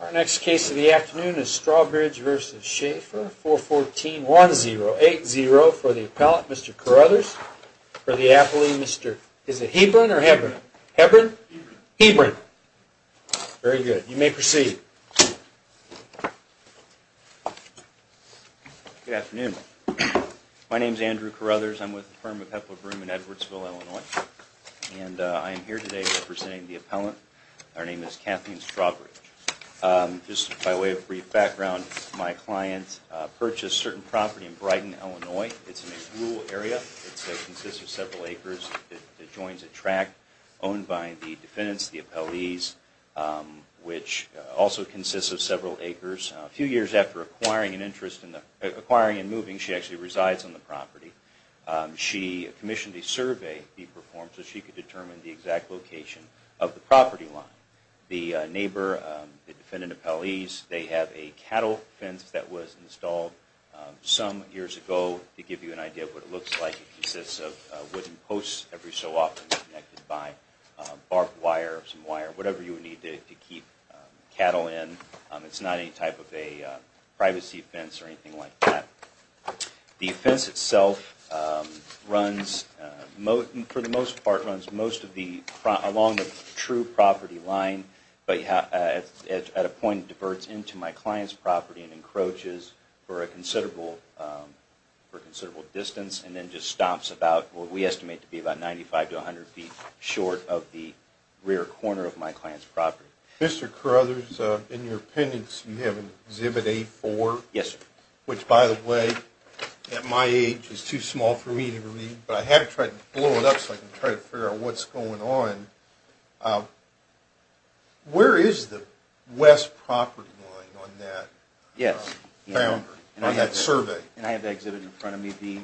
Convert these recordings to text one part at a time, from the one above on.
Our next case of the afternoon is Strawbridge v. Schafer, 4141080 for the appellant, Mr. Carruthers, for the appellee, is it Hebron or Hebron? Hebron. Hebron. Very good. You may proceed. Good afternoon. My name is Andrew Carruthers. I'm with the firm of Hepler Broom in Edwardsville, Illinois. And I am here today representing the appellant. Our name is Kathleen Strawbridge. Just by way of brief background, my client purchased certain property in Brighton, Illinois. It's in a rural area. It consists of several acres. It joins a tract owned by the defendants, the appellees, which also consists of several acres. A few years after acquiring and moving, she actually resides on the property. She commissioned a survey be performed so she could determine the exact location of the property line. The neighbor, the defendant appellees, they have a cattle fence that was installed some years ago to give you an idea of what it looks like. It consists of wooden posts every so often connected by barbed wire, some wire, whatever you would need to keep cattle in. It's not any type of a privacy fence or anything like that. The fence itself runs, for the most part, runs most of the, along the true property line, but at a point it diverts into my client's property and encroaches for a considerable distance and then just stops about what we estimate to be about 95 to 100 feet short of the rear corner of my client's property. Mr. Carruthers, in your pendants you have an exhibit A4. Yes, sir. Which, by the way, at my age is too small for me to read, but I had to try to blow it up so I could try to figure out what's going on. Where is the west property line on that? Yes. On that survey. And I have the exhibit in front of me, the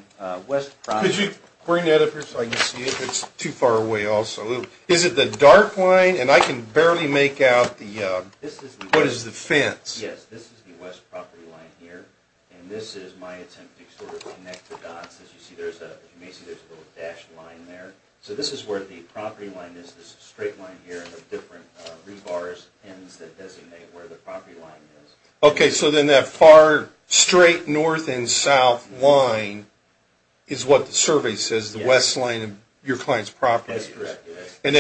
west property line. Could you bring that up here so I can see it? It's too far away also. Is it the dark line? And I can barely make out the, what is the fence? Yes, this is the west property line here, and this is my attempt to sort of connect the dots. As you see, you may see there's a little dashed line there. So this is where the property line is, this straight line here, and the different rebars, pins that designate where the property line is. Okay, so then that far straight north and south line is what the survey says, the west line of your client's property. That's correct, yes. And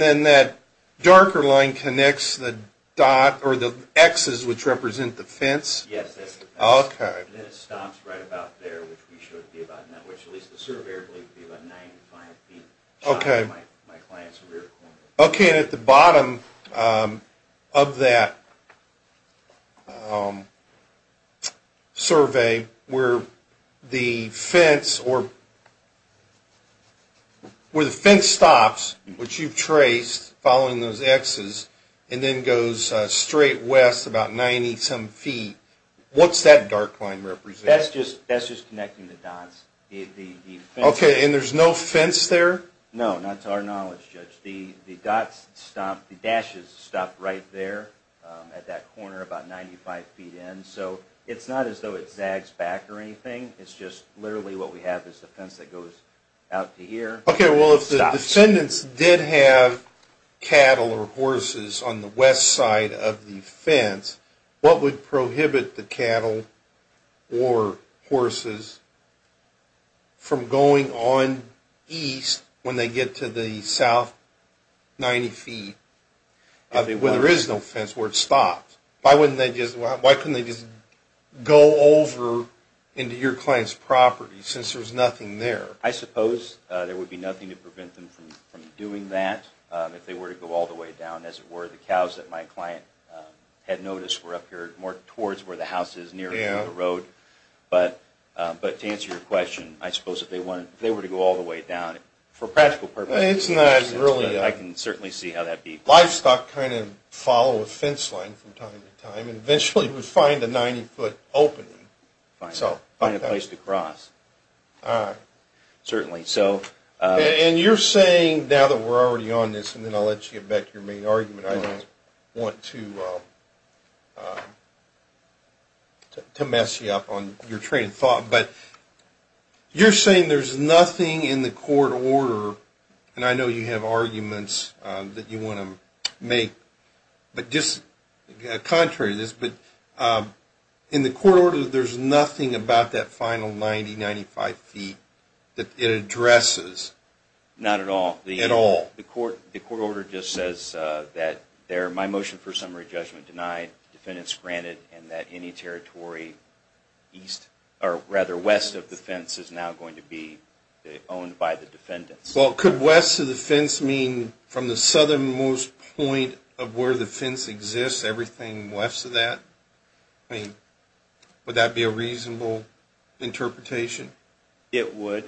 then that darker line connects the dot, or the X's, which represent the fence? Yes, that's the fence. Okay. And then it stops right about there, which we showed you about now, which at least the surveyor believed to be about 95 feet, showing my client's rear corner. Okay, and at the bottom of that survey, where the fence stops, which you've traced, following those X's, and then goes straight west about 90 some feet, what's that dark line represent? That's just connecting the dots. Okay, and there's no fence there? No, not to our knowledge, Judge. The dots stop, the dashes stop right there at that corner about 95 feet in. So it's not as though it zags back or anything. It's just literally what we have is a fence that goes out to here. Okay, well, if the descendants did have cattle or horses on the west side of the fence, what would prohibit the cattle or horses from going on east when they get to the south 90 feet, where there is no fence, where it stops? Why couldn't they just go over into your client's property since there's nothing there? I suppose there would be nothing to prevent them from doing that if they were to go all the way down, as it were. The cows that my client had noticed were up here more towards where the house is, nearer to the road. But to answer your question, I suppose if they were to go all the way down, for practical purposes, I can certainly see how that would be. Livestock kind of follow a fence line from time to time, and eventually would find a 90 foot opening. Find a place to cross, certainly. And you're saying, now that we're already on this, and then I'll let you get back to your main argument, I don't want to mess you up on your train of thought, but you're saying there's nothing in the court order, and I know you have arguments that you want to make, but just contrary to this, but in the court order there's nothing about that final 90, 95 feet that it addresses. Not at all. At all. The court order just says that my motion for summary judgment denied, defendants granted, and that any territory west of the fence is now going to be owned by the defendants. Well, could west of the fence mean from the southernmost point of where the fence exists, everything west of that? I mean, would that be a reasonable interpretation? It would.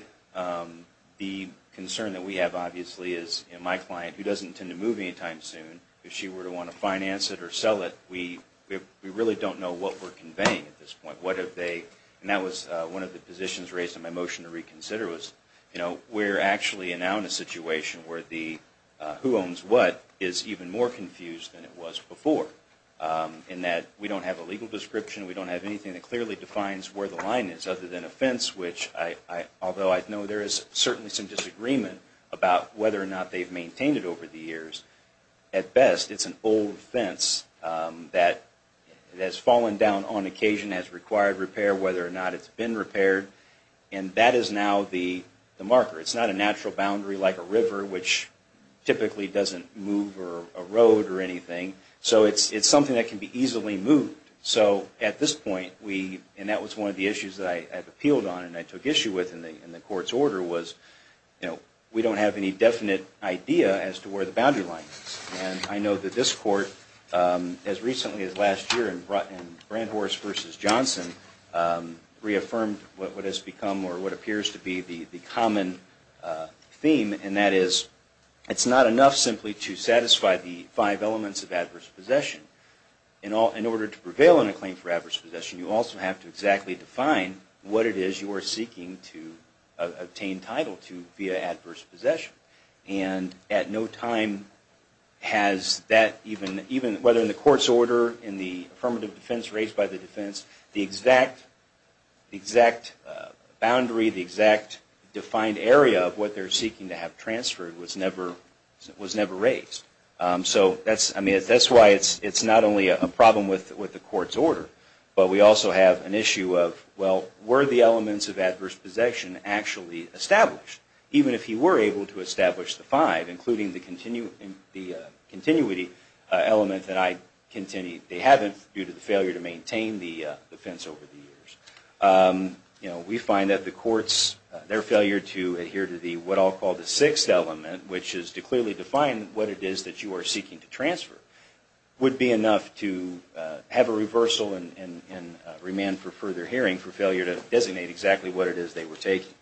The concern that we have, obviously, is my client, who doesn't tend to move anytime soon, if she were to want to finance it or sell it, we really don't know what we're conveying at this point. What have they, and that was one of the positions raised in my motion to reconsider, we're actually now in a situation where the who owns what is even more confused than it was before, in that we don't have a legal description, we don't have anything that clearly defines where the line is other than a fence, which although I know there is certainly some disagreement about whether or not they've maintained it over the years, at best it's an old fence that has fallen down on occasion, has required repair, whether or not it's been repaired, and that is now the marker. It's not a natural boundary like a river, which typically doesn't move or erode or anything. So it's something that can be easily moved. So at this point, and that was one of the issues that I appealed on and I took issue with in the court's order, was we don't have any definite idea as to where the boundary line is. And I know that this court, as recently as last year in Brandhorst v. Johnson, reaffirmed what has become or what appears to be the common theme, and that is it's not enough simply to satisfy the five elements of adverse possession. In order to prevail in a claim for adverse possession, you also have to exactly define what it is you are seeking to obtain title to via adverse possession. And at no time has that, even whether in the court's order, in the affirmative defense raised by the defense, the exact boundary, the exact defined area of what they're seeking to have transferred was never raised. So that's why it's not only a problem with the court's order, but we also have an issue of, well, were the elements of adverse possession actually established? Even if he were able to establish the five, including the continuity element that I continued, they haven't due to the failure to maintain the defense over the years. We find that the courts, their failure to adhere to what I'll call the sixth element, which is to clearly define what it is that you are seeking to transfer, would be enough to have a reversal and remand for further hearing for failure to designate exactly what it is they were taking.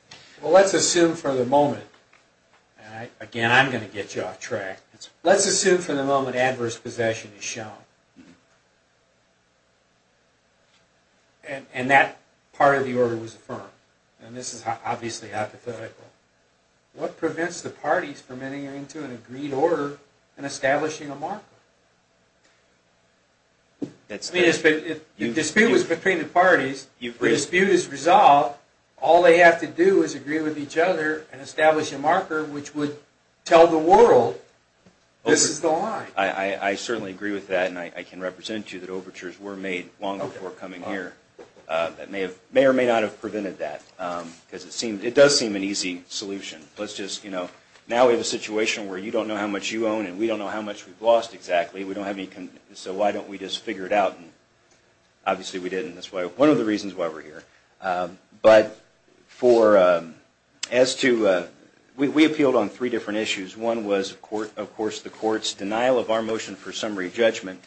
Well, let's assume for the moment. Again, I'm going to get you off track. Let's assume for the moment adverse possession is shown. And that part of the order was affirmed. And this is obviously hypothetical. What prevents the parties from entering into an agreed order and establishing a marker? If the dispute was between the parties, the dispute is resolved, all they have to do is agree with each other and establish a marker, which would tell the world this is the line. I certainly agree with that, and I can represent to you that overtures were made long before coming here. That may or may not have prevented that, because it does seem an easy solution. Now we have a situation where you don't know how much you own, and we don't know how much we've lost exactly, so why don't we just figure it out? Obviously we didn't. That's one of the reasons why we're here. But we appealed on three different issues. One was, of course, the court's denial of our motion for summary judgment.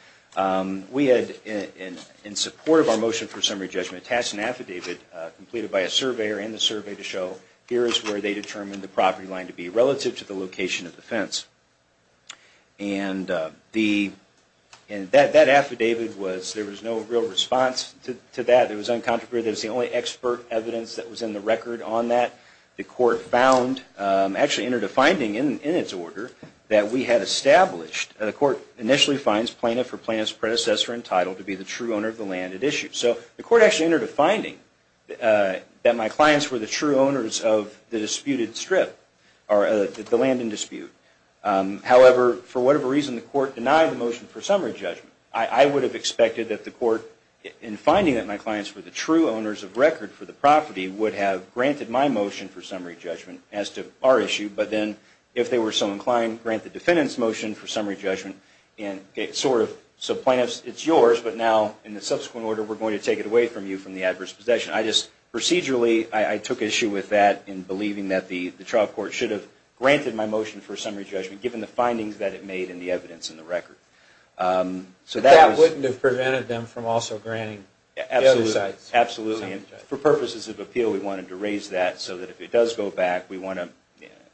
We had, in support of our motion for summary judgment, passed an affidavit completed by a surveyor and the survey to show here is where they determined the property line to be relative to the location of the fence. And that affidavit was, there was no real response to that. It was uncontroverted. It was the only expert evidence that was in the record on that. The court found, actually entered a finding in its order, that we had established, the court initially finds plaintiff or plaintiff's predecessor entitled to be the true owner of the land at issue. So the court actually entered a finding that my clients were the true owners of the disputed strip, or the land in dispute. However, for whatever reason, the court denied the motion for summary judgment. I would have expected that the court, in finding that my clients were the true owners of record for the property, would have granted my motion for summary judgment as to our issue. But then, if they were so inclined, grant the defendant's motion for summary judgment. And it sort of, so plaintiff's, it's yours, but now in the subsequent order, we're going to take it away from you from the adverse possession. I just procedurally, I took issue with that in believing that the trial court should have granted my motion for summary judgment, given the findings that it made in the evidence in the record. But that wouldn't have prevented them from also granting the other sites. Absolutely. For purposes of appeal, we wanted to raise that so that if it does go back, we want to,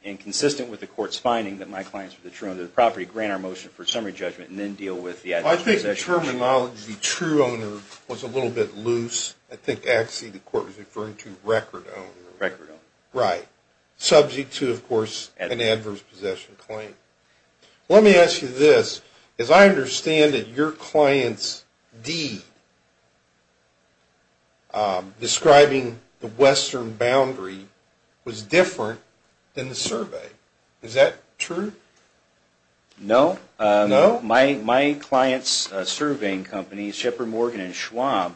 in consistent with the court's finding that my clients were the true owners of the property, I think the terminology true owner was a little bit loose. I think actually the court was referring to record owner. Record owner. Right. Subject to, of course, an adverse possession claim. Let me ask you this. As I understand it, your client's deed describing the western boundary was different than the survey. Is that true? No. No? My client's surveying company, Shepard, Morgan, and Schwab,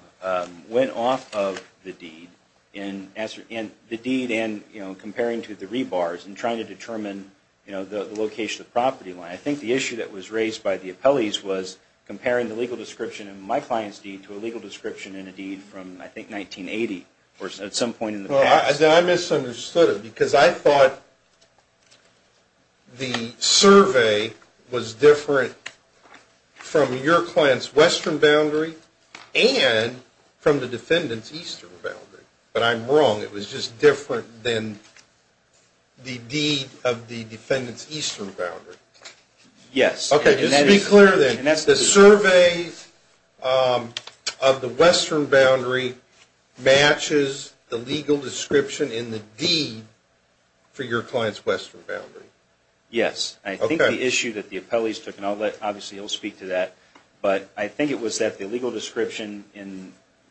went off of the deed, and the deed and comparing to the rebars and trying to determine the location of the property line. I think the issue that was raised by the appellees was comparing the legal description of my client's deed to a legal description in a deed from, I think, 1980 or at some point in the past. I misunderstood it because I thought the survey was different from your client's western boundary and from the defendant's eastern boundary. But I'm wrong. It was just different than the deed of the defendant's eastern boundary. Yes. Okay, just to be clear then, the survey of the western boundary matches the legal description in the deed for your client's western boundary? Yes. I think the issue that the appellees took, and obviously I'll speak to that, but I think it was that the legal description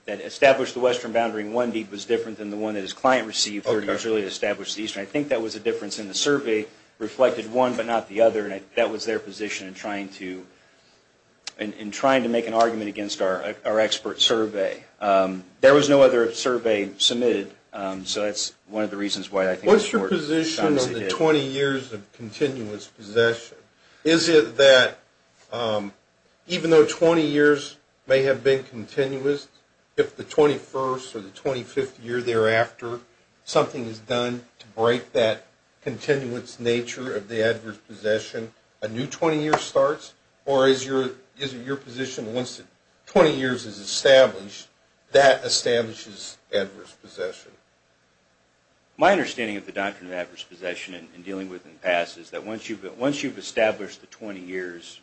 that established the western boundary in one deed was different than the one that his client received 30 years earlier to establish the eastern. I think that was the difference, and the survey reflected one but not the other, and I think that was their position in trying to make an argument against our expert survey. There was no other survey submitted, so that's one of the reasons why I think the court shuns it. What's your position on the 20 years of continuous possession? Is it that even though 20 years may have been continuous, if the 21st or the 25th year thereafter, something is done to break that continuous nature of the adverse possession, a new 20 years starts? Or is it your position that once 20 years is established, that establishes adverse possession? My understanding of the doctrine of adverse possession and dealing with it in the past is that once you've established the 20 years,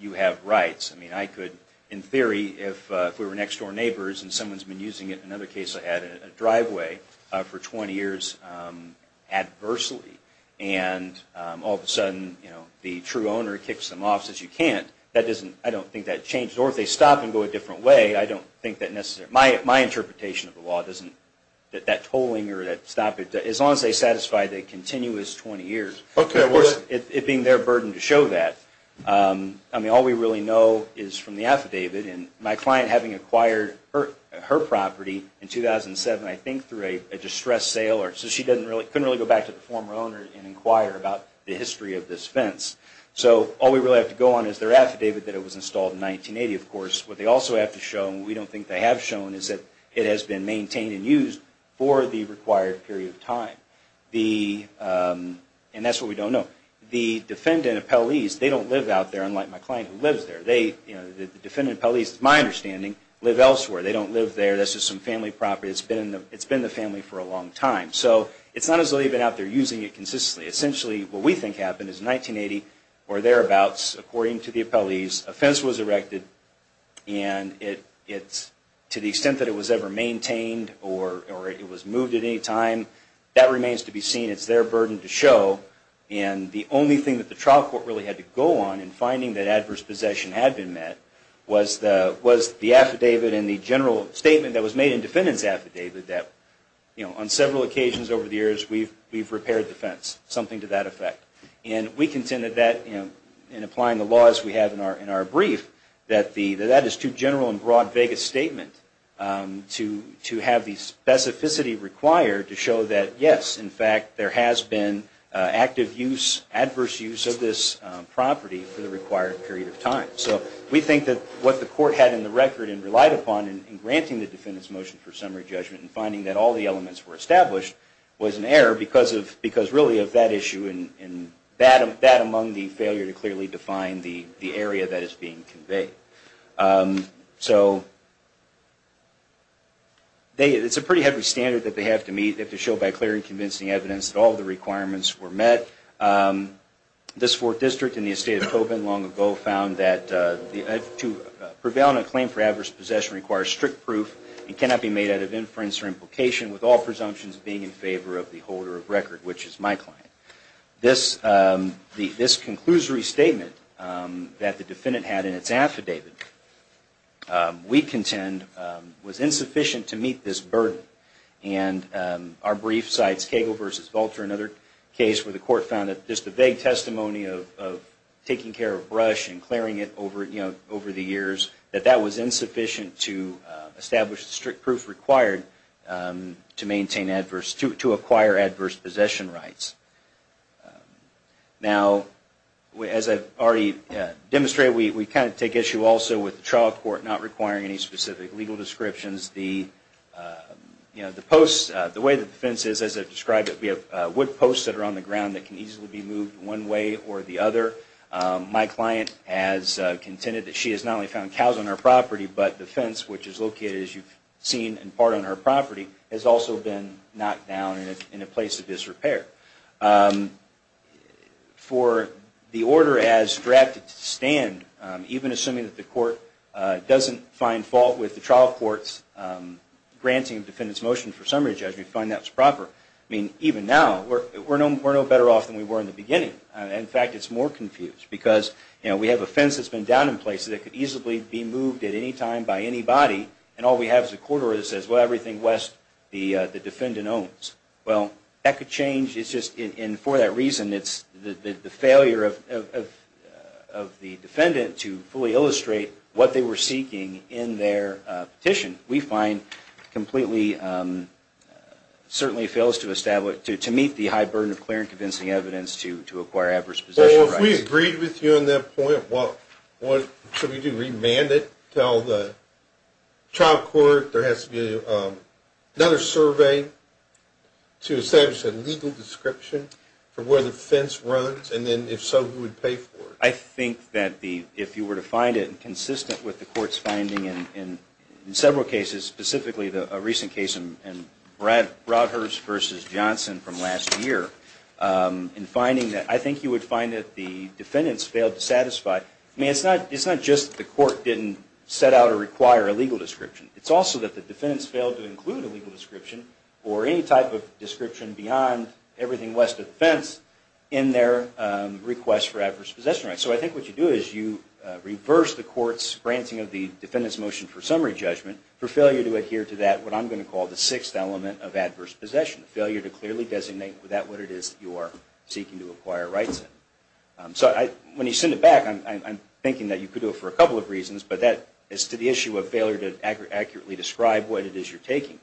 you have rights. I mean, I could, in theory, if we were next-door neighbors and someone's been using it, in another case I had in a driveway, for 20 years adversely, and all of a sudden, the true owner kicks them off since you can't, I don't think that changes. Or if they stop and go a different way, I don't think that necessarily. My interpretation of the law doesn't, that tolling or that stop, as long as they satisfy the continuous 20 years, at worst, it being their burden to show that. I mean, all we really know is from the affidavit, and my client having acquired her property in 2007, I think through a distressed sale, so she couldn't really go back to the former owner and inquire about the history of this fence. So all we really have to go on is their affidavit that it was installed in 1980, of course. What they also have to show, and we don't think they have shown, is that it has been maintained and used for the required period of time. And that's what we don't know. The defendant appellees, they don't live out there, unlike my client who lives there. The defendant appellees, to my understanding, live elsewhere. They don't live there. That's just some family property. It's been the family for a long time. So it's not as though they've been out there using it consistently. Essentially, what we think happened is in 1980 or thereabouts, according to the appellees, a fence was erected, and to the extent that it was ever maintained or it was moved at any time, that remains to be seen. It's their burden to show. And the only thing that the trial court really had to go on in finding that adverse possession had been met was the affidavit and the general statement that was made in the defendant's affidavit that on several occasions over the years, we've repaired the fence, something to that effect. And we contended that, in applying the laws we have in our brief, that that is too general and broad, vague a statement to have the specificity required to show that, yes, in fact, there has been active use, adverse use of this property for the required period of time. So we think that what the court had in the record and relied upon in granting the defendant's motion for summary judgment and finding that all the elements were established was an error because really of that issue and that among the failure to clearly define the area that is being conveyed. So it's a pretty heavy standard that they have to meet. They have to show by clear and convincing evidence that all the requirements were met. This fourth district in the estate of Tobin long ago found that to prevail in a claim for adverse possession requires strict proof and cannot be made out of inference or implication with all presumptions being in favor of the holder of record, which is my client. This conclusory statement that the defendant had in its affidavit, we contend, was insufficient to meet this burden. And our brief cites Cagle v. Valter, another case where the court found that just the vague testimony of taking care of brush and clearing it over the years, that that was insufficient to establish the strict proof required to acquire adverse possession rights. Now, as I've already demonstrated, we kind of take issue also with the trial court not requiring any specific legal descriptions. The way the defense is, as I've described it, we have wood posts that are on the ground that can easily be moved one way or the other. My client has contended that she has not only found cows on her property, but the fence, which is located, as you've seen, in part on her property, has also been knocked down in a place of disrepair. For the order as drafted to stand, even assuming that the court doesn't find fault with the trial court's granting of defendant's motion for summary judgment, we find that was proper. I mean, even now, we're no better off than we were in the beginning. In fact, it's more confused, because we have a fence that's been down in places that could easily be moved at any time by anybody, and all we have is a corridor that says, well, everything west the defendant owns. Well, that could change, and for that reason, it's the failure of the defendant to fully illustrate what they were seeking in their petition, we find, completely, certainly fails to meet the high burden of clear and convincing evidence to acquire adverse possession rights. Well, if we agreed with you on that point, what should we do, remand it, tell the trial court there has to be another survey to establish a legal description for where the fence runs, and then, if so, who would pay for it? I think that if you were to find it consistent with the court's finding in several cases, specifically a recent case in Broadhurst v. Johnson from last year, in finding that I think you would find that the defendants failed to satisfy. I mean, it's not just the court didn't set out or require a legal description. It's also that the defendants failed to include a legal description or any type of description beyond everything west of the fence in their request for adverse possession rights. So I think what you do is you reverse the court's granting of the defendant's motion for summary judgment for failure to adhere to that, what I'm going to call, the sixth element of adverse possession, failure to clearly designate that what it is that you are seeking to acquire rights in. So when you send it back, I'm thinking that you could do it for a couple of reasons, but that is to the issue of failure to accurately describe what it is you're taking.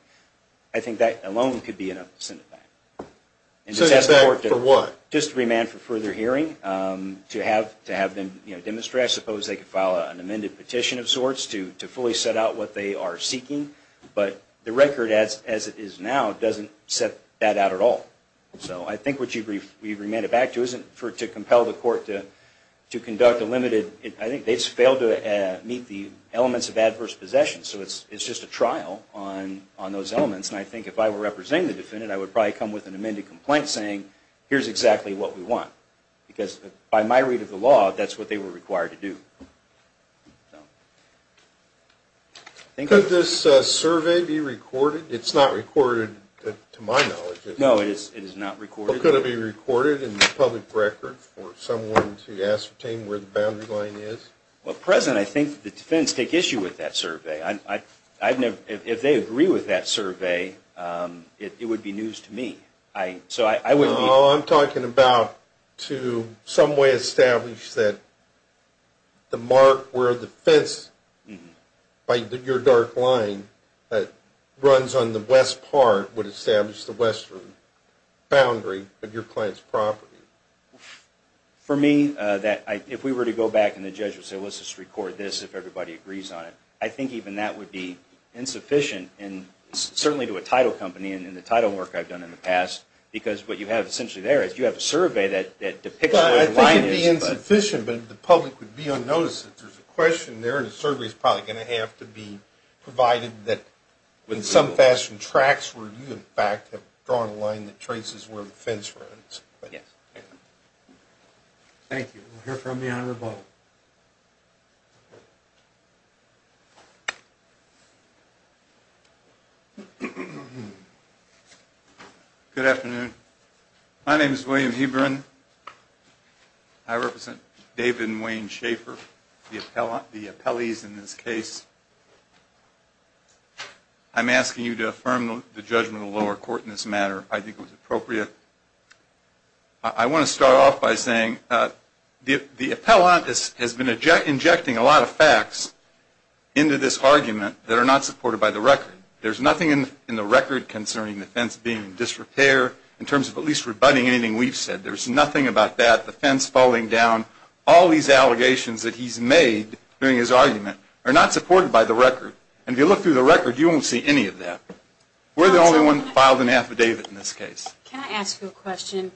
I think that alone could be enough to send it back. Send it back for what? Just to remand for further hearing, to have them demonstrate, I suppose they could file an amended petition of sorts to fully set out what they are seeking, but the record as it is now doesn't set that out at all. So I think what you remand it back to isn't to compel the court to conduct a limited, I think they just failed to meet the elements of adverse possession. So it's just a trial on those elements, and I think if I were representing the defendant, I would probably come with an amended complaint saying, here's exactly what we want, because by my read of the law, that's what they were required to do. Could this survey be recorded? It's not recorded to my knowledge, is it? No, it is not recorded. Could it be recorded in the public record for someone to ascertain where the boundary line is? Well, President, I think the defendants take issue with that survey. If they agree with that survey, it would be news to me. No, I'm talking about to some way establish that the mark where the fence by your dark line that runs on the west part would establish the western boundary of your client's property. For me, if we were to go back and the judge would say, let's just record this if everybody agrees on it, I think even that would be insufficient, and certainly to a title company, and the title work I've done in the past, because what you have essentially there is, you have a survey that depicts where the line is. Well, I think it would be insufficient, but if the public would be unnoticed, if there's a question there, the survey is probably going to have to be provided that, in some fashion, tracks where you, in fact, have drawn a line that traces where the fence runs. Yes. Thank you. We'll hear from the Honorable. Good afternoon. My name is William Hebron. I represent David and Wayne Schaefer, the appellees in this case. I'm asking you to affirm the judgment of the lower court in this matter. I think it was appropriate. I want to start off by saying the appellant has been injecting a lot of facts into this argument that are not supported by the record. There's nothing in the record concerning the fence being in disrepair, in terms of at least rebutting anything we've said. There's nothing about that, the fence falling down. All these allegations that he's made during his argument are not supported by the record, and if you look through the record, you won't see any of that. We're the only one that filed an affidavit in this case. Can I ask you a question?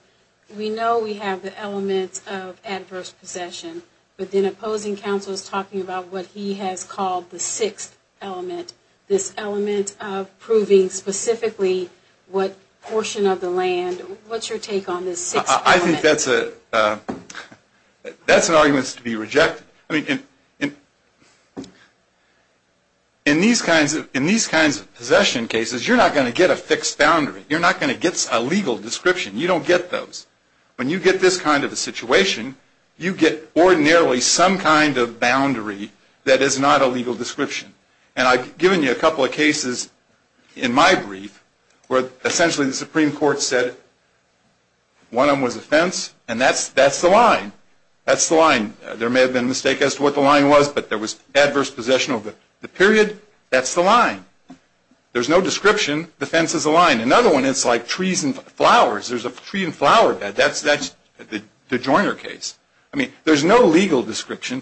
We know we have the elements of adverse possession, but then opposing counsel is talking about what he has called the sixth element, this element of proving specifically what portion of the land. What's your take on this sixth element? I think that's an argument to be rejected. I mean, in these kinds of possession cases, you're not going to get a fixed boundary. You're not going to get a legal description. You don't get those. When you get this kind of a situation, you get ordinarily some kind of boundary that is not a legal description, and I've given you a couple of cases in my brief where essentially the Supreme Court said one of them was a fence, and that's the line. That's the line. There may have been a mistake as to what the line was, but there was adverse possession of the period. That's the line. There's no description. The fence is a line. Another one is like trees and flowers. There's a tree and flower bed. That's the Joyner case. I mean, there's no legal description.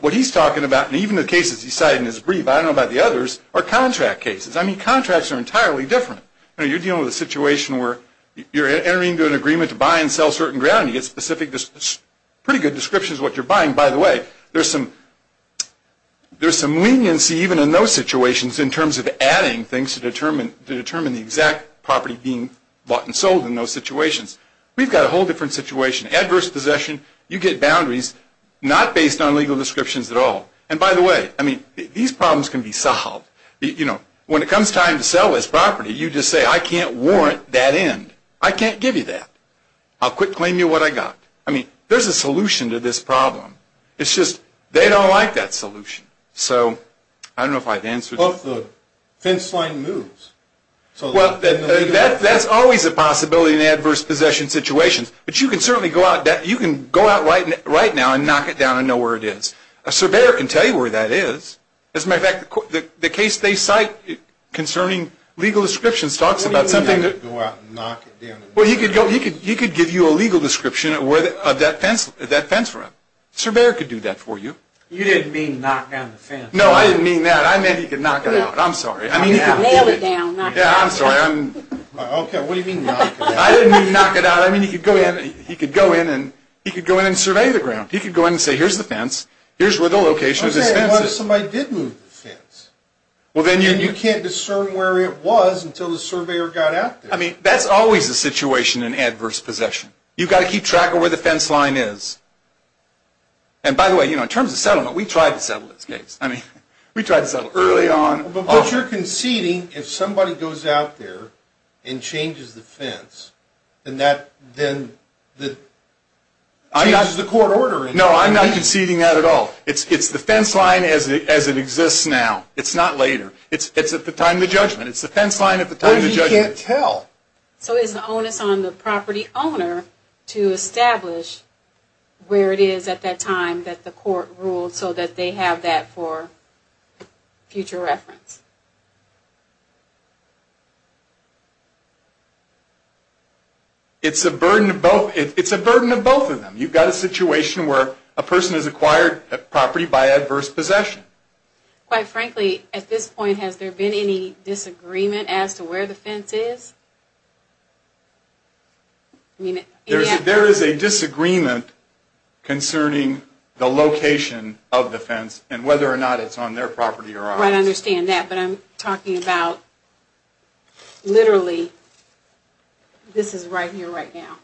What he's talking about, and even the cases he cited in his brief, I don't know about the others, are contract cases. I mean, contracts are entirely different. You're dealing with a situation where you're entering into an agreement to buy and sell certain ground. You get pretty good descriptions of what you're buying. By the way, there's some leniency even in those situations in terms of adding things to determine the exact property being bought and sold in those situations. We've got a whole different situation. Adverse possession, you get boundaries, not based on legal descriptions at all. And by the way, I mean, these problems can be solved. You know, when it comes time to sell this property, you just say, I can't warrant that end. I can't give you that. I'll quick claim you what I got. I mean, there's a solution to this problem. It's just they don't like that solution. So I don't know if I've answered your question. Well, if the fence line moves. Well, that's always a possibility in adverse possession situations. But you can certainly go out right now and knock it down and know where it is. A surveyor can tell you where that is. As a matter of fact, the case they cite concerning legal descriptions talks about something that... What do you mean, go out and knock it down? Well, he could give you a legal description of that fence run. A surveyor could do that for you. You didn't mean knock down the fence. No, I didn't mean that. I meant he could knock it out. I'm sorry. I mean, he could nail it down, knock it out. Yeah, I'm sorry. Okay, what do you mean knock it out? I didn't mean knock it out. You know what I mean? He could go in and survey the ground. He could go in and say, here's the fence. Here's where the location of this fence is. Okay, what if somebody did move the fence? And you can't discern where it was until the surveyor got out there. I mean, that's always a situation in adverse possession. You've got to keep track of where the fence line is. And by the way, in terms of settlement, we tried to settle this case. I mean, we tried to settle it early on. But you're conceding if somebody goes out there and changes the fence, then that changes the court order. No, I'm not conceding that at all. It's the fence line as it exists now. It's not later. It's at the time of the judgment. It's the fence line at the time of the judgment. But you can't tell. So is the onus on the property owner to establish where it is at that time that the court rules so that they have that for future reference? It's a burden of both. It's a burden of both of them. You've got a situation where a person has acquired property by adverse possession. Quite frankly, at this point, has there been any disagreement as to where the fence is? There is a disagreement concerning the location of the fence and whether or not it's on their property or ours. I understand that. But I'm talking about literally this is right here, right now.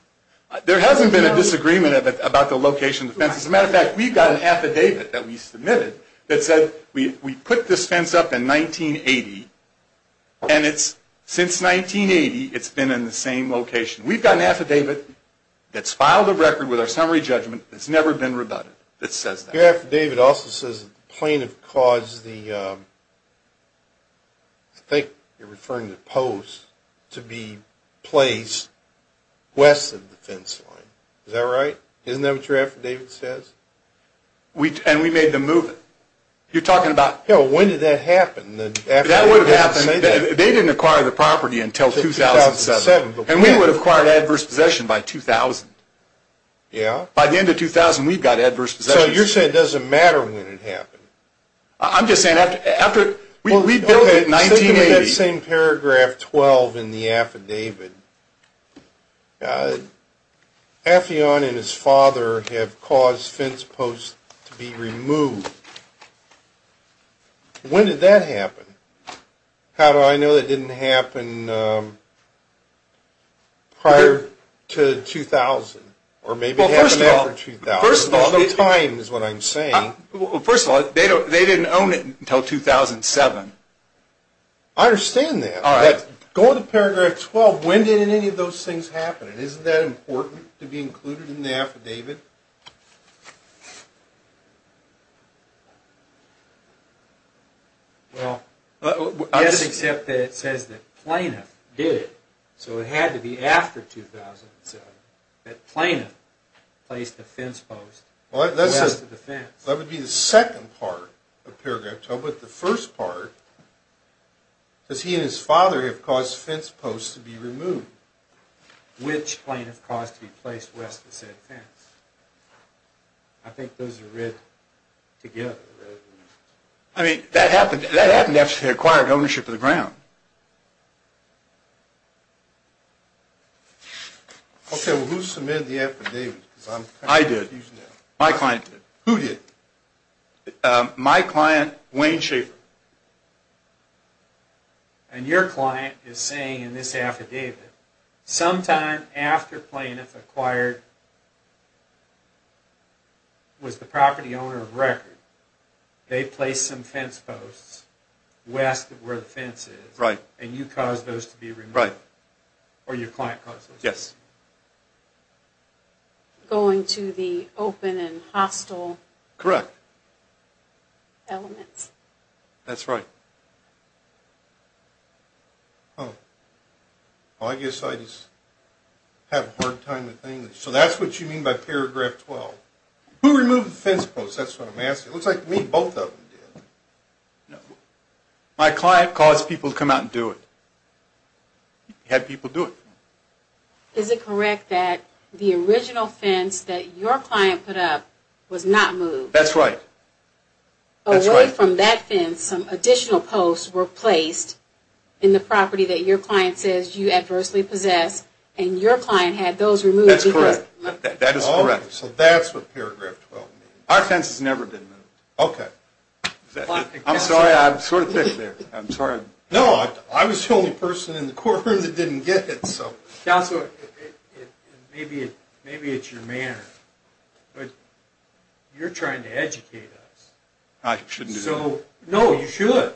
There hasn't been a disagreement about the location of the fence. As a matter of fact, we've got an affidavit that we submitted that said we put this fence up in 1980. And since 1980, it's been in the same location. We've got an affidavit that's filed a record with our summary judgment that's never been rebutted that says that. Your affidavit also says the plaintiff caused the, I think you're referring to posts, to be placed west of the fence line. Is that right? Isn't that what your affidavit says? And we made them move it. You're talking about, hell, when did that happen? They didn't acquire the property until 2007. And we would have acquired adverse possession by 2000. By the end of 2000, we've got adverse possession. So you're saying it doesn't matter when it happened? I'm just saying after we built it in 1980. Think of that same paragraph 12 in the affidavit. Affion and his father have caused fence posts to be removed. When did that happen? How do I know it didn't happen prior to 2000? Or maybe it happened after 2000. First of all, the time is what I'm saying. First of all, they didn't own it until 2007. I understand that. Going to paragraph 12, when did any of those things happen? And isn't that important to be included in the affidavit? Well, yes, except that it says that plaintiff did it. So it had to be after 2007 that plaintiff placed a fence post west of the fence. That would be the second part of paragraph 12. But the first part, does he and his father have caused fence posts to be removed? Which plaintiff caused to be placed west of said fence? I think those are read together. I mean, that happened after they acquired ownership of the ground. Okay, well, who submitted the affidavit? I did. My client did. Who did? My client, Wayne Schaefer. And your client is saying in this affidavit, sometime after plaintiff acquired, was the property owner of record, they placed some fence posts west of where the fence is. Right. And you caused those to be removed. Right. Or your client caused those to be removed. Yes. Going to the open and hostile elements. Correct. Elements. That's right. Oh. Well, I guess I just have a hard time with English. So that's what you mean by paragraph 12. Who removed the fence posts? That's what I'm asking. It looks like to me both of them did. No. My client caused people to come out and do it. He had people do it. Is it correct that the original fence that your client put up was not moved? That's right. That's right. Away from that fence, some additional posts were placed in the property that your client says you adversely possess, and your client had those removed. That's correct. That is correct. So that's what paragraph 12 means. Our fence has never been moved. Okay. I'm sorry. I'm sort of thick there. I'm sorry. No. I was the only person in the courtroom that didn't get it, so. Counselor, maybe it's your manner. But you're trying to educate us. I shouldn't be. No, you should.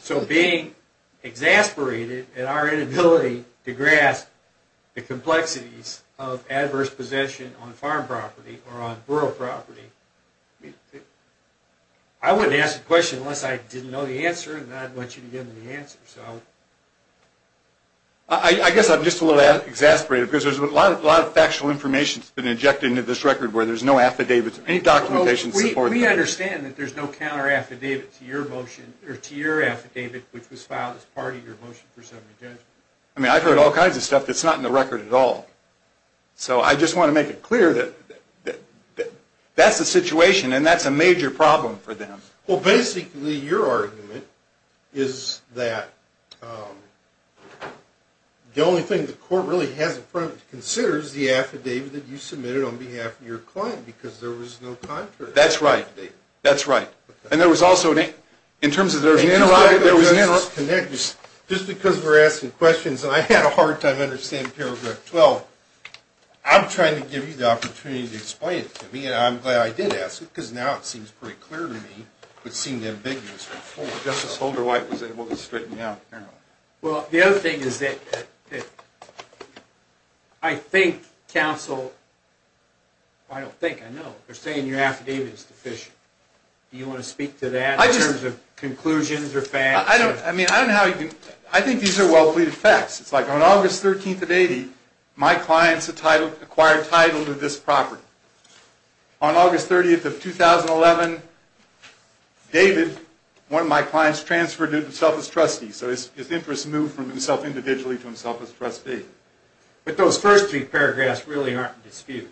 So being exasperated at our inability to grasp the complexities of adverse possession on farm property or on rural property, I wouldn't ask the question unless I didn't know the answer, and then I'd want you to give me the answer. I guess I'm just a little exasperated because there's a lot of factual information that's been injected into this record where there's no affidavits or any documentation to support that. We understand that there's no counter affidavit to your motion or to your affidavit which was filed as part of your motion for summary judgment. I mean, I've heard all kinds of stuff that's not in the record at all. So I just want to make it clear that that's the situation and that's a major problem for them. Well, basically your argument is that the only thing the court really has in mind is the affidavit that you submitted on behalf of your client because there was no counter affidavit. That's right. That's right. And there was also in terms of there was an interruption. Just because we're asking questions and I had a hard time understanding paragraph 12, I'm trying to give you the opportunity to explain it to me, and I'm glad I did ask it because now it seems pretty clear to me, but seemed ambiguous. Justice Holderwhite was able to straighten it out apparently. Well, the other thing is that I think counsel, I don't think, I know, they're saying your affidavit is deficient. Do you want to speak to that in terms of conclusions or facts? I mean, I don't know how you can, I think these are well-pleaded facts. It's like on August 13th of 80, my clients acquired title to this property. On August 30th of 2011, David, one of my clients, transferred himself as trustee. So his interest moved from himself individually to himself as trustee. But those first three paragraphs really aren't in dispute.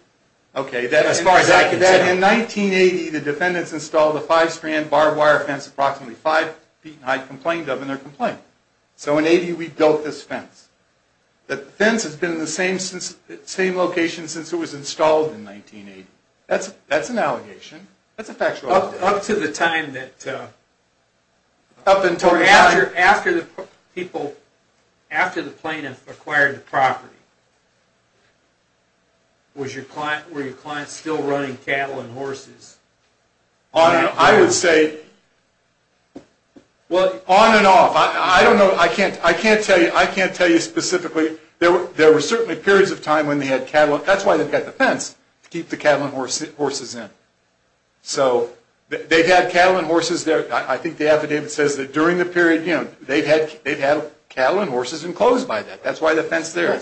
Okay. As far as I can tell. In 1980, the defendants installed a five-strand barbed wire fence approximately five feet in height, complained of, and they're complaining. So in 80, we built this fence. The fence has been in the same location since it was installed in 1980. That's an allegation. That's a factual allegation. Up to the time that, after the plaintiff acquired the property, were your clients still running cattle and horses? I would say on and off. I don't know. I can't tell you. I can't tell you specifically. There were certainly periods of time when they had cattle. That's why they've got the fence to keep the cattle and horses in. So they've had cattle and horses there. I think the affidavit says that during the period, you know, they've had cattle and horses enclosed by that. That's why the fence there.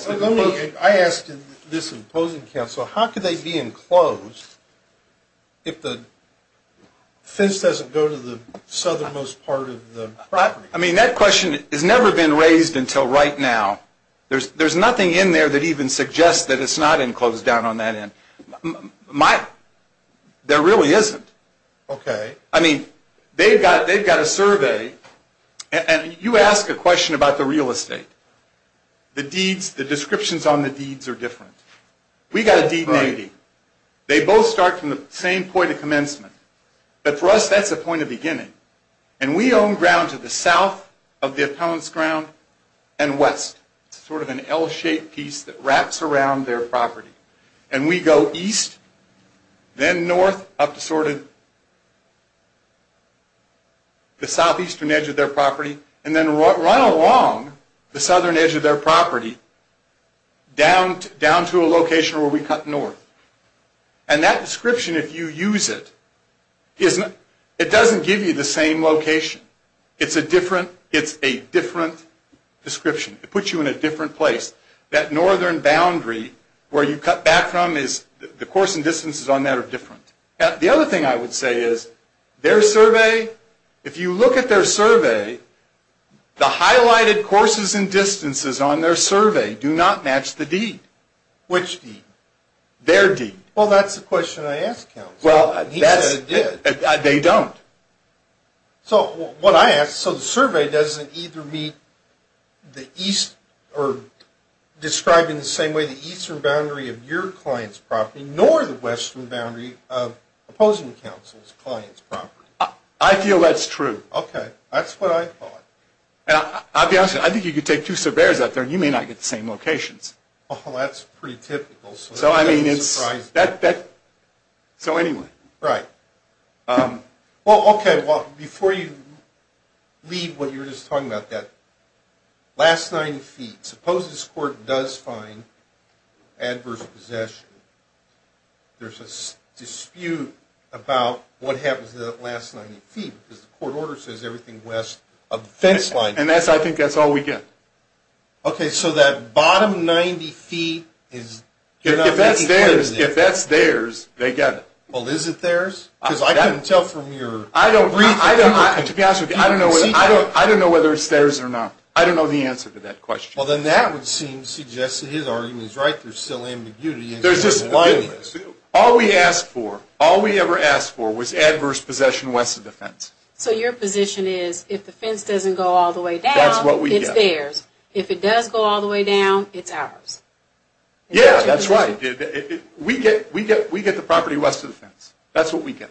I asked this in opposing counsel, how could they be enclosed if the fence doesn't go to the southernmost part of the property? I mean, that question has never been raised until right now. There's nothing in there that even suggests that it's not enclosed down on that end. There really isn't. Okay. I mean, they've got a survey, and you ask a question about the real estate. The deeds, the descriptions on the deeds are different. We've got a deed in 80. They both start from the same point of commencement. But for us, that's a point of beginning. And we own ground to the south of the appellant's ground and west. It's sort of an L-shaped piece that wraps around their property. And we go east, then north up to sort of the southeastern edge of their property, and then run along the southern edge of their property down to a location where we cut north. And that description, if you use it, it doesn't give you the same location. It's a different description. It puts you in a different place. That northern boundary, where you cut back from, the course and distances on that are different. The other thing I would say is, their survey, if you look at their survey, the highlighted courses and distances on their survey do not match the deed. Which deed? Their deed. Well, that's the question I asked him. He said it did. They don't. So what I ask, so the survey doesn't either meet the east or describe in the same way the eastern boundary of your client's property, nor the western boundary of opposing counsel's client's property. I feel that's true. Okay. That's what I thought. I'll be honest, I think you could take two surveyors out there and you may not get the same locations. Well, that's pretty typical. So, I mean, it's. I'm surprised. So, anyway. Right. Well, okay, before you leave what you were just talking about, that last 90 feet, suppose this court does find adverse possession, there's a dispute about what happens to that last 90 feet, because the court order says everything west of the fence line. And I think that's all we get. Okay, so that bottom 90 feet is. If that's theirs, they get it. Well, is it theirs? Because I couldn't tell from your. I don't know. To be honest with you, I don't know whether it's theirs or not. I don't know the answer to that question. Well, then that would seem to suggest that his argument is right. There's still ambiguity. All we asked for, all we ever asked for was adverse possession west of the fence. So your position is if the fence doesn't go all the way down, it's theirs. If it does go all the way down, it's ours. Yeah, that's right. We get the property west of the fence. That's what we get.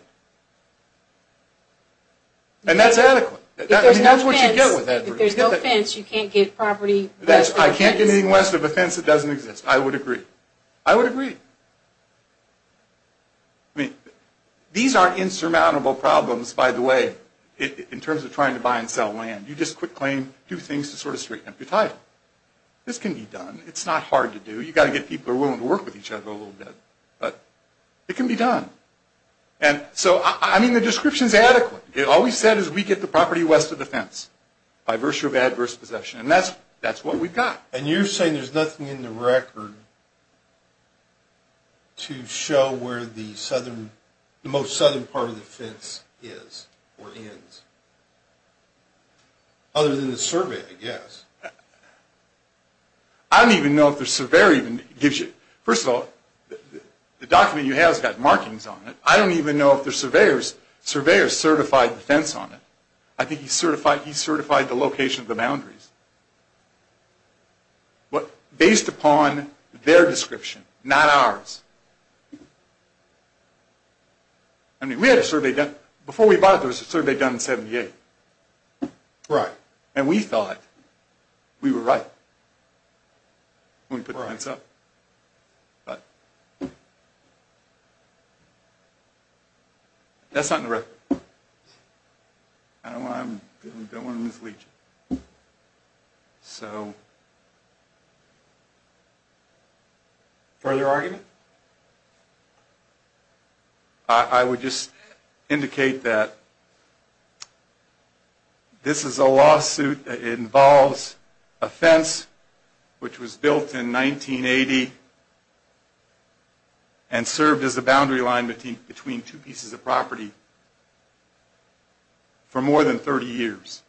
And that's adequate. If there's no fence, you can't get property west of the fence. I can't get anything west of the fence that doesn't exist. I would agree. I would agree. I mean, these are insurmountable problems, by the way, in terms of trying to buy and sell land. You just quit claim, do things to sort of straighten up your title. This can be done. It's not hard to do. You've got to get people who are willing to work with each other a little bit. But it can be done. And so, I mean, the description is adequate. All we said is we get the property west of the fence by virtue of adverse possession. And that's what we've got. And you're saying there's nothing in the record to show where the southern, the most southern part of the fence is or ends, other than the survey, I guess. I don't even know if the surveyor even gives you. First of all, the document you have has got markings on it. I don't even know if the surveyor certified the fence on it. I think he certified the location of the boundaries. But based upon their description, not ours. I mean, we had a survey done. Before we bought it, there was a survey done in 78. Right. And we thought we were right when we put the fence up. But that's not in the record. I don't want to mislead you. So further argument? I would just indicate that this is a lawsuit. It involves a fence which was built in 1980 and served as a boundary line between two pieces of property for more than 30 years.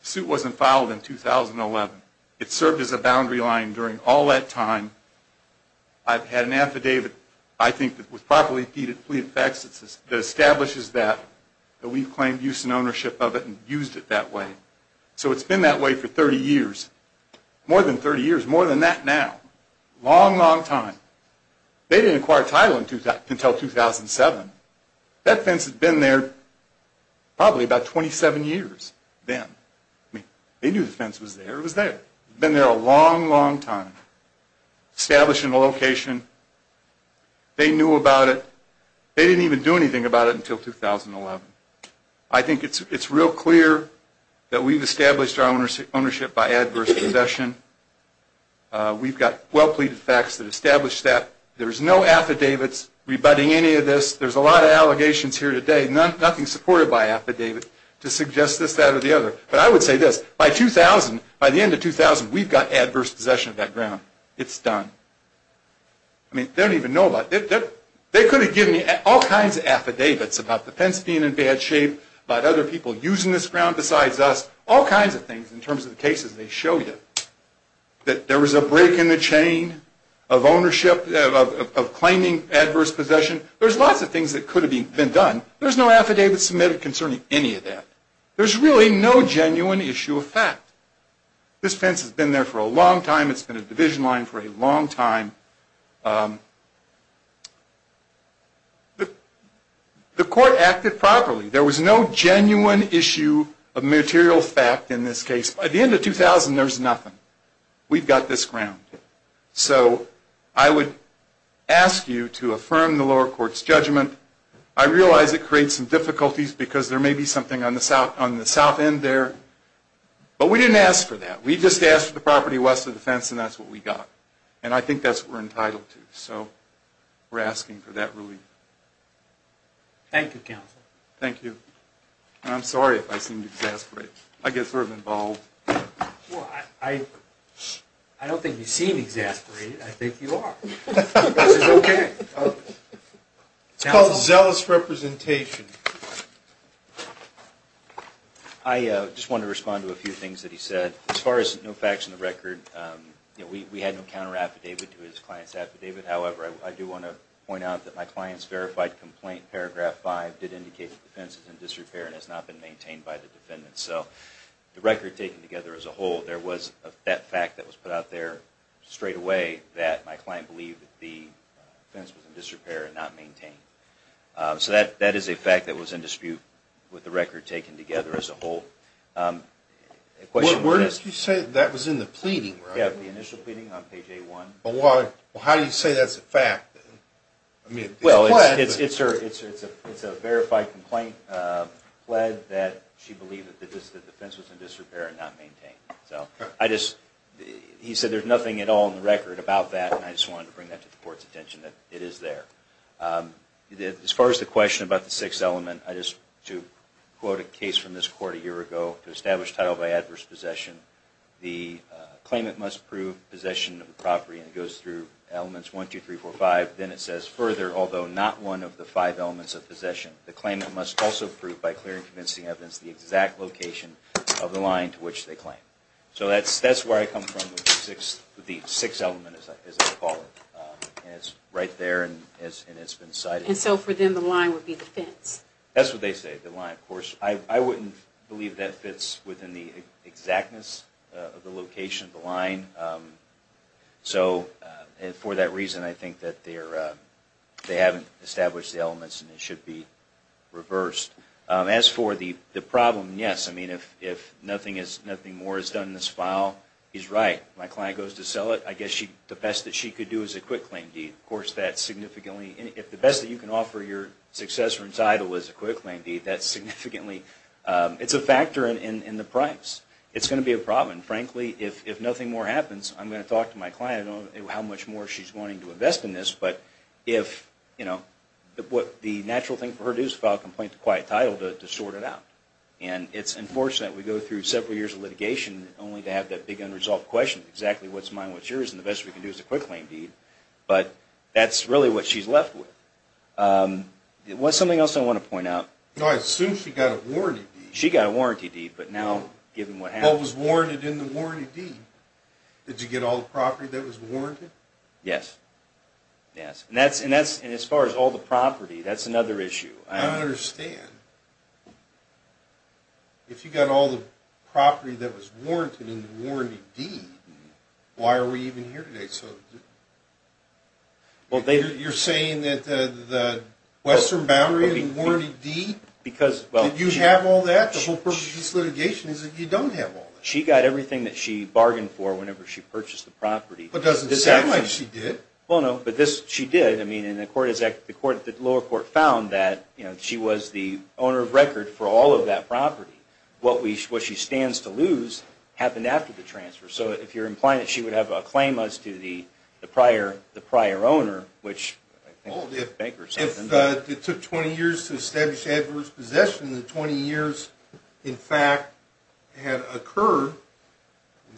The suit wasn't filed in 2011. It served as a boundary line during all that time. I've had an affidavit, I think, with properly deeded fleet of facts that establishes that, that we've claimed use and ownership of it and used it that way. So it's been that way for 30 years, more than 30 years, more than that now. Long, long time. They didn't acquire title until 2007. That fence had been there probably about 27 years then. They knew the fence was there. It was there. It had been there a long, long time. Establishing a location. They knew about it. They didn't even do anything about it until 2011. I think it's real clear that we've established our ownership by adverse concession. We've got well-pleaded facts that establish that. There's no affidavits rebutting any of this. There's a lot of allegations here today, nothing supported by affidavits, to suggest this, that, or the other. But I would say this. By 2000, by the end of 2000, we've got adverse possession of that ground. It's done. I mean, they don't even know about it. They could have given you all kinds of affidavits about the fence being in bad shape, about other people using this ground besides us, all kinds of things in terms of the cases they show you. That there was a break in the chain of ownership, of claiming adverse possession. There's lots of things that could have been done. There's no affidavit submitted concerning any of that. There's really no genuine issue of fact. This fence has been there for a long time. It's been a division line for a long time. The court acted properly. There was no genuine issue of material fact in this case. By the end of 2000, there was nothing. We've got this ground. So I would ask you to affirm the lower court's judgment. I realize it creates some difficulties because there may be something on the south end there. But we didn't ask for that. We just asked for the property west of the fence, and that's what we got. And I think that's what we're entitled to. So we're asking for that relief. Thank you, counsel. Thank you. And I'm sorry if I seem to exasperate. I get sort of involved. Well, I don't think you seem exasperated. I think you are. This is okay. It's called zealous representation. I just want to respond to a few things that he said. As far as no facts in the record, we had no counter affidavit to his client's affidavit. However, I do want to point out that my client's verified complaint, paragraph 5, did indicate the fence is in disrepair and has not been maintained by the defendant. So the record taken together as a whole, there was that fact that was put out there straightaway that my client believed that the fence was in disrepair and not maintained. So that is a fact that was in dispute with the record taken together as a whole. Where did you say that was in the pleading? Yeah, the initial pleading on page A1. Well, how do you say that's a fact? Well, it's a verified complaint pled that she believed that the fence was in disrepair and not maintained. He said there's nothing at all in the record about that, and I just wanted to bring that to the court's attention that it is there. As far as the question about the sixth element, to quote a case from this court a year ago to establish title by adverse possession, the claimant must prove possession of the property, and it goes through elements 1, 2, 3, 4, 5. Then it says further, although not one of the five elements of possession, the claimant must also prove by clear and convincing evidence the exact location of the line to which they claim. So that's where I come from with the sixth element, as I call it. It's right there, and it's been cited. And so for them, the line would be the fence? That's what they say, the line, of course. I wouldn't believe that fits within the exactness of the location of the line. So for that reason, I think that they haven't established the elements, and it should be reversed. As for the problem, yes. I mean, if nothing more is done in this file, he's right. My client goes to sell it. I guess the best that she could do is a quick claim deed. Of course, if the best that you can offer your successor in title is a quick claim deed, it's a factor in the price. It's going to be a problem. Frankly, if nothing more happens, I'm going to talk to my client about how much more she's wanting to invest in this. But the natural thing for her to do is file a complaint to Quiet Title to sort it out. And it's unfortunate. We go through several years of litigation only to have that big unresolved question, exactly what's mine, what's yours, and the best we can do is a quick claim deed. But that's really what she's left with. Something else I want to point out. I assume she got a warranty deed. She got a warranty deed, but now given what happened. Paul was warranted in the warranty deed. Did you get all the property that was warranted? Yes. Yes. And as far as all the property, that's another issue. I don't understand. If you got all the property that was warranted in the warranty deed, why are we even here today? You're saying that the Western Boundary and the warranty deed, did you have all that? The whole purpose of this litigation is that you don't have all that. She got everything that she bargained for whenever she purchased the property. But it doesn't sound like she did. Well, no. But she did. The lower court found that she was the owner of record for all of that property. What she stands to lose happened after the transfer. So if you're implying that she would have a claim as to the prior owner, which I think the bankers said. If it took 20 years to establish adverse possession, and 20 years, in fact, had occurred,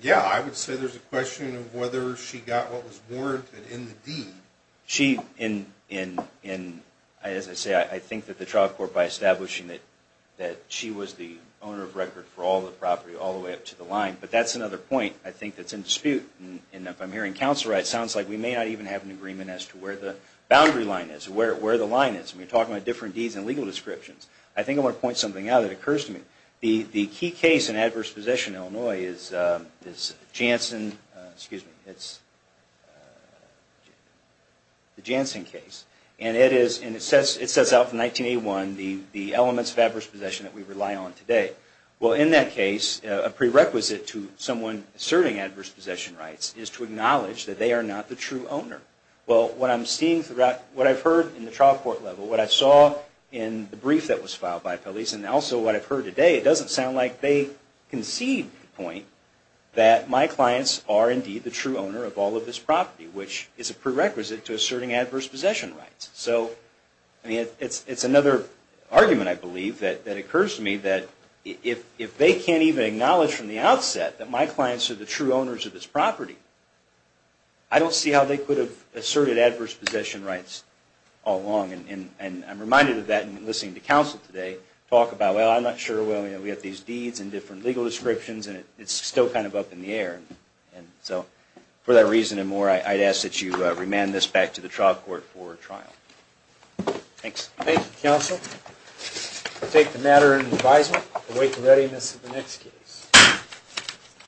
yeah, I would say there's a question of whether she got what was warranted in the deed. She, as I say, I think that the trial court, by establishing that she was the owner of record for all the property, all the way up to the line. But that's another point, I think, that's in dispute. And if I'm hearing counsel right, it sounds like we may not even have an agreement as to where the boundary line is, where the line is. And we're talking about different deeds and legal descriptions. I think I want to point something out that occurs to me. The key case in adverse possession in Illinois is Janssen, excuse me, it's the Janssen case. And it is, and it says out in 1981, the elements of adverse possession that we rely on today. Well, in that case, a prerequisite to someone asserting adverse possession rights is to acknowledge that they are not the true owner. Well, what I'm seeing throughout, what I've heard in the trial court level, what I saw in the brief that was filed by police, and also what I've heard today, it doesn't sound like they concede the point that my clients are indeed the true owner of all of this property, which is a prerequisite to asserting adverse possession rights. So it's another argument, I believe, that occurs to me, that if they can't even acknowledge from the outset that my clients are the true owners of this property, I don't see how they could have asserted adverse possession rights all along. And I'm reminded of that in listening to counsel today talk about, well, I'm not sure, well, we have these deeds and different legal descriptions and it's still kind of up in the air. And so for that reason and more, I'd ask that you remand this back to the trial court for trial. Thanks. Thank you, counsel. We'll take the matter into advisement. Await the readiness of the next case.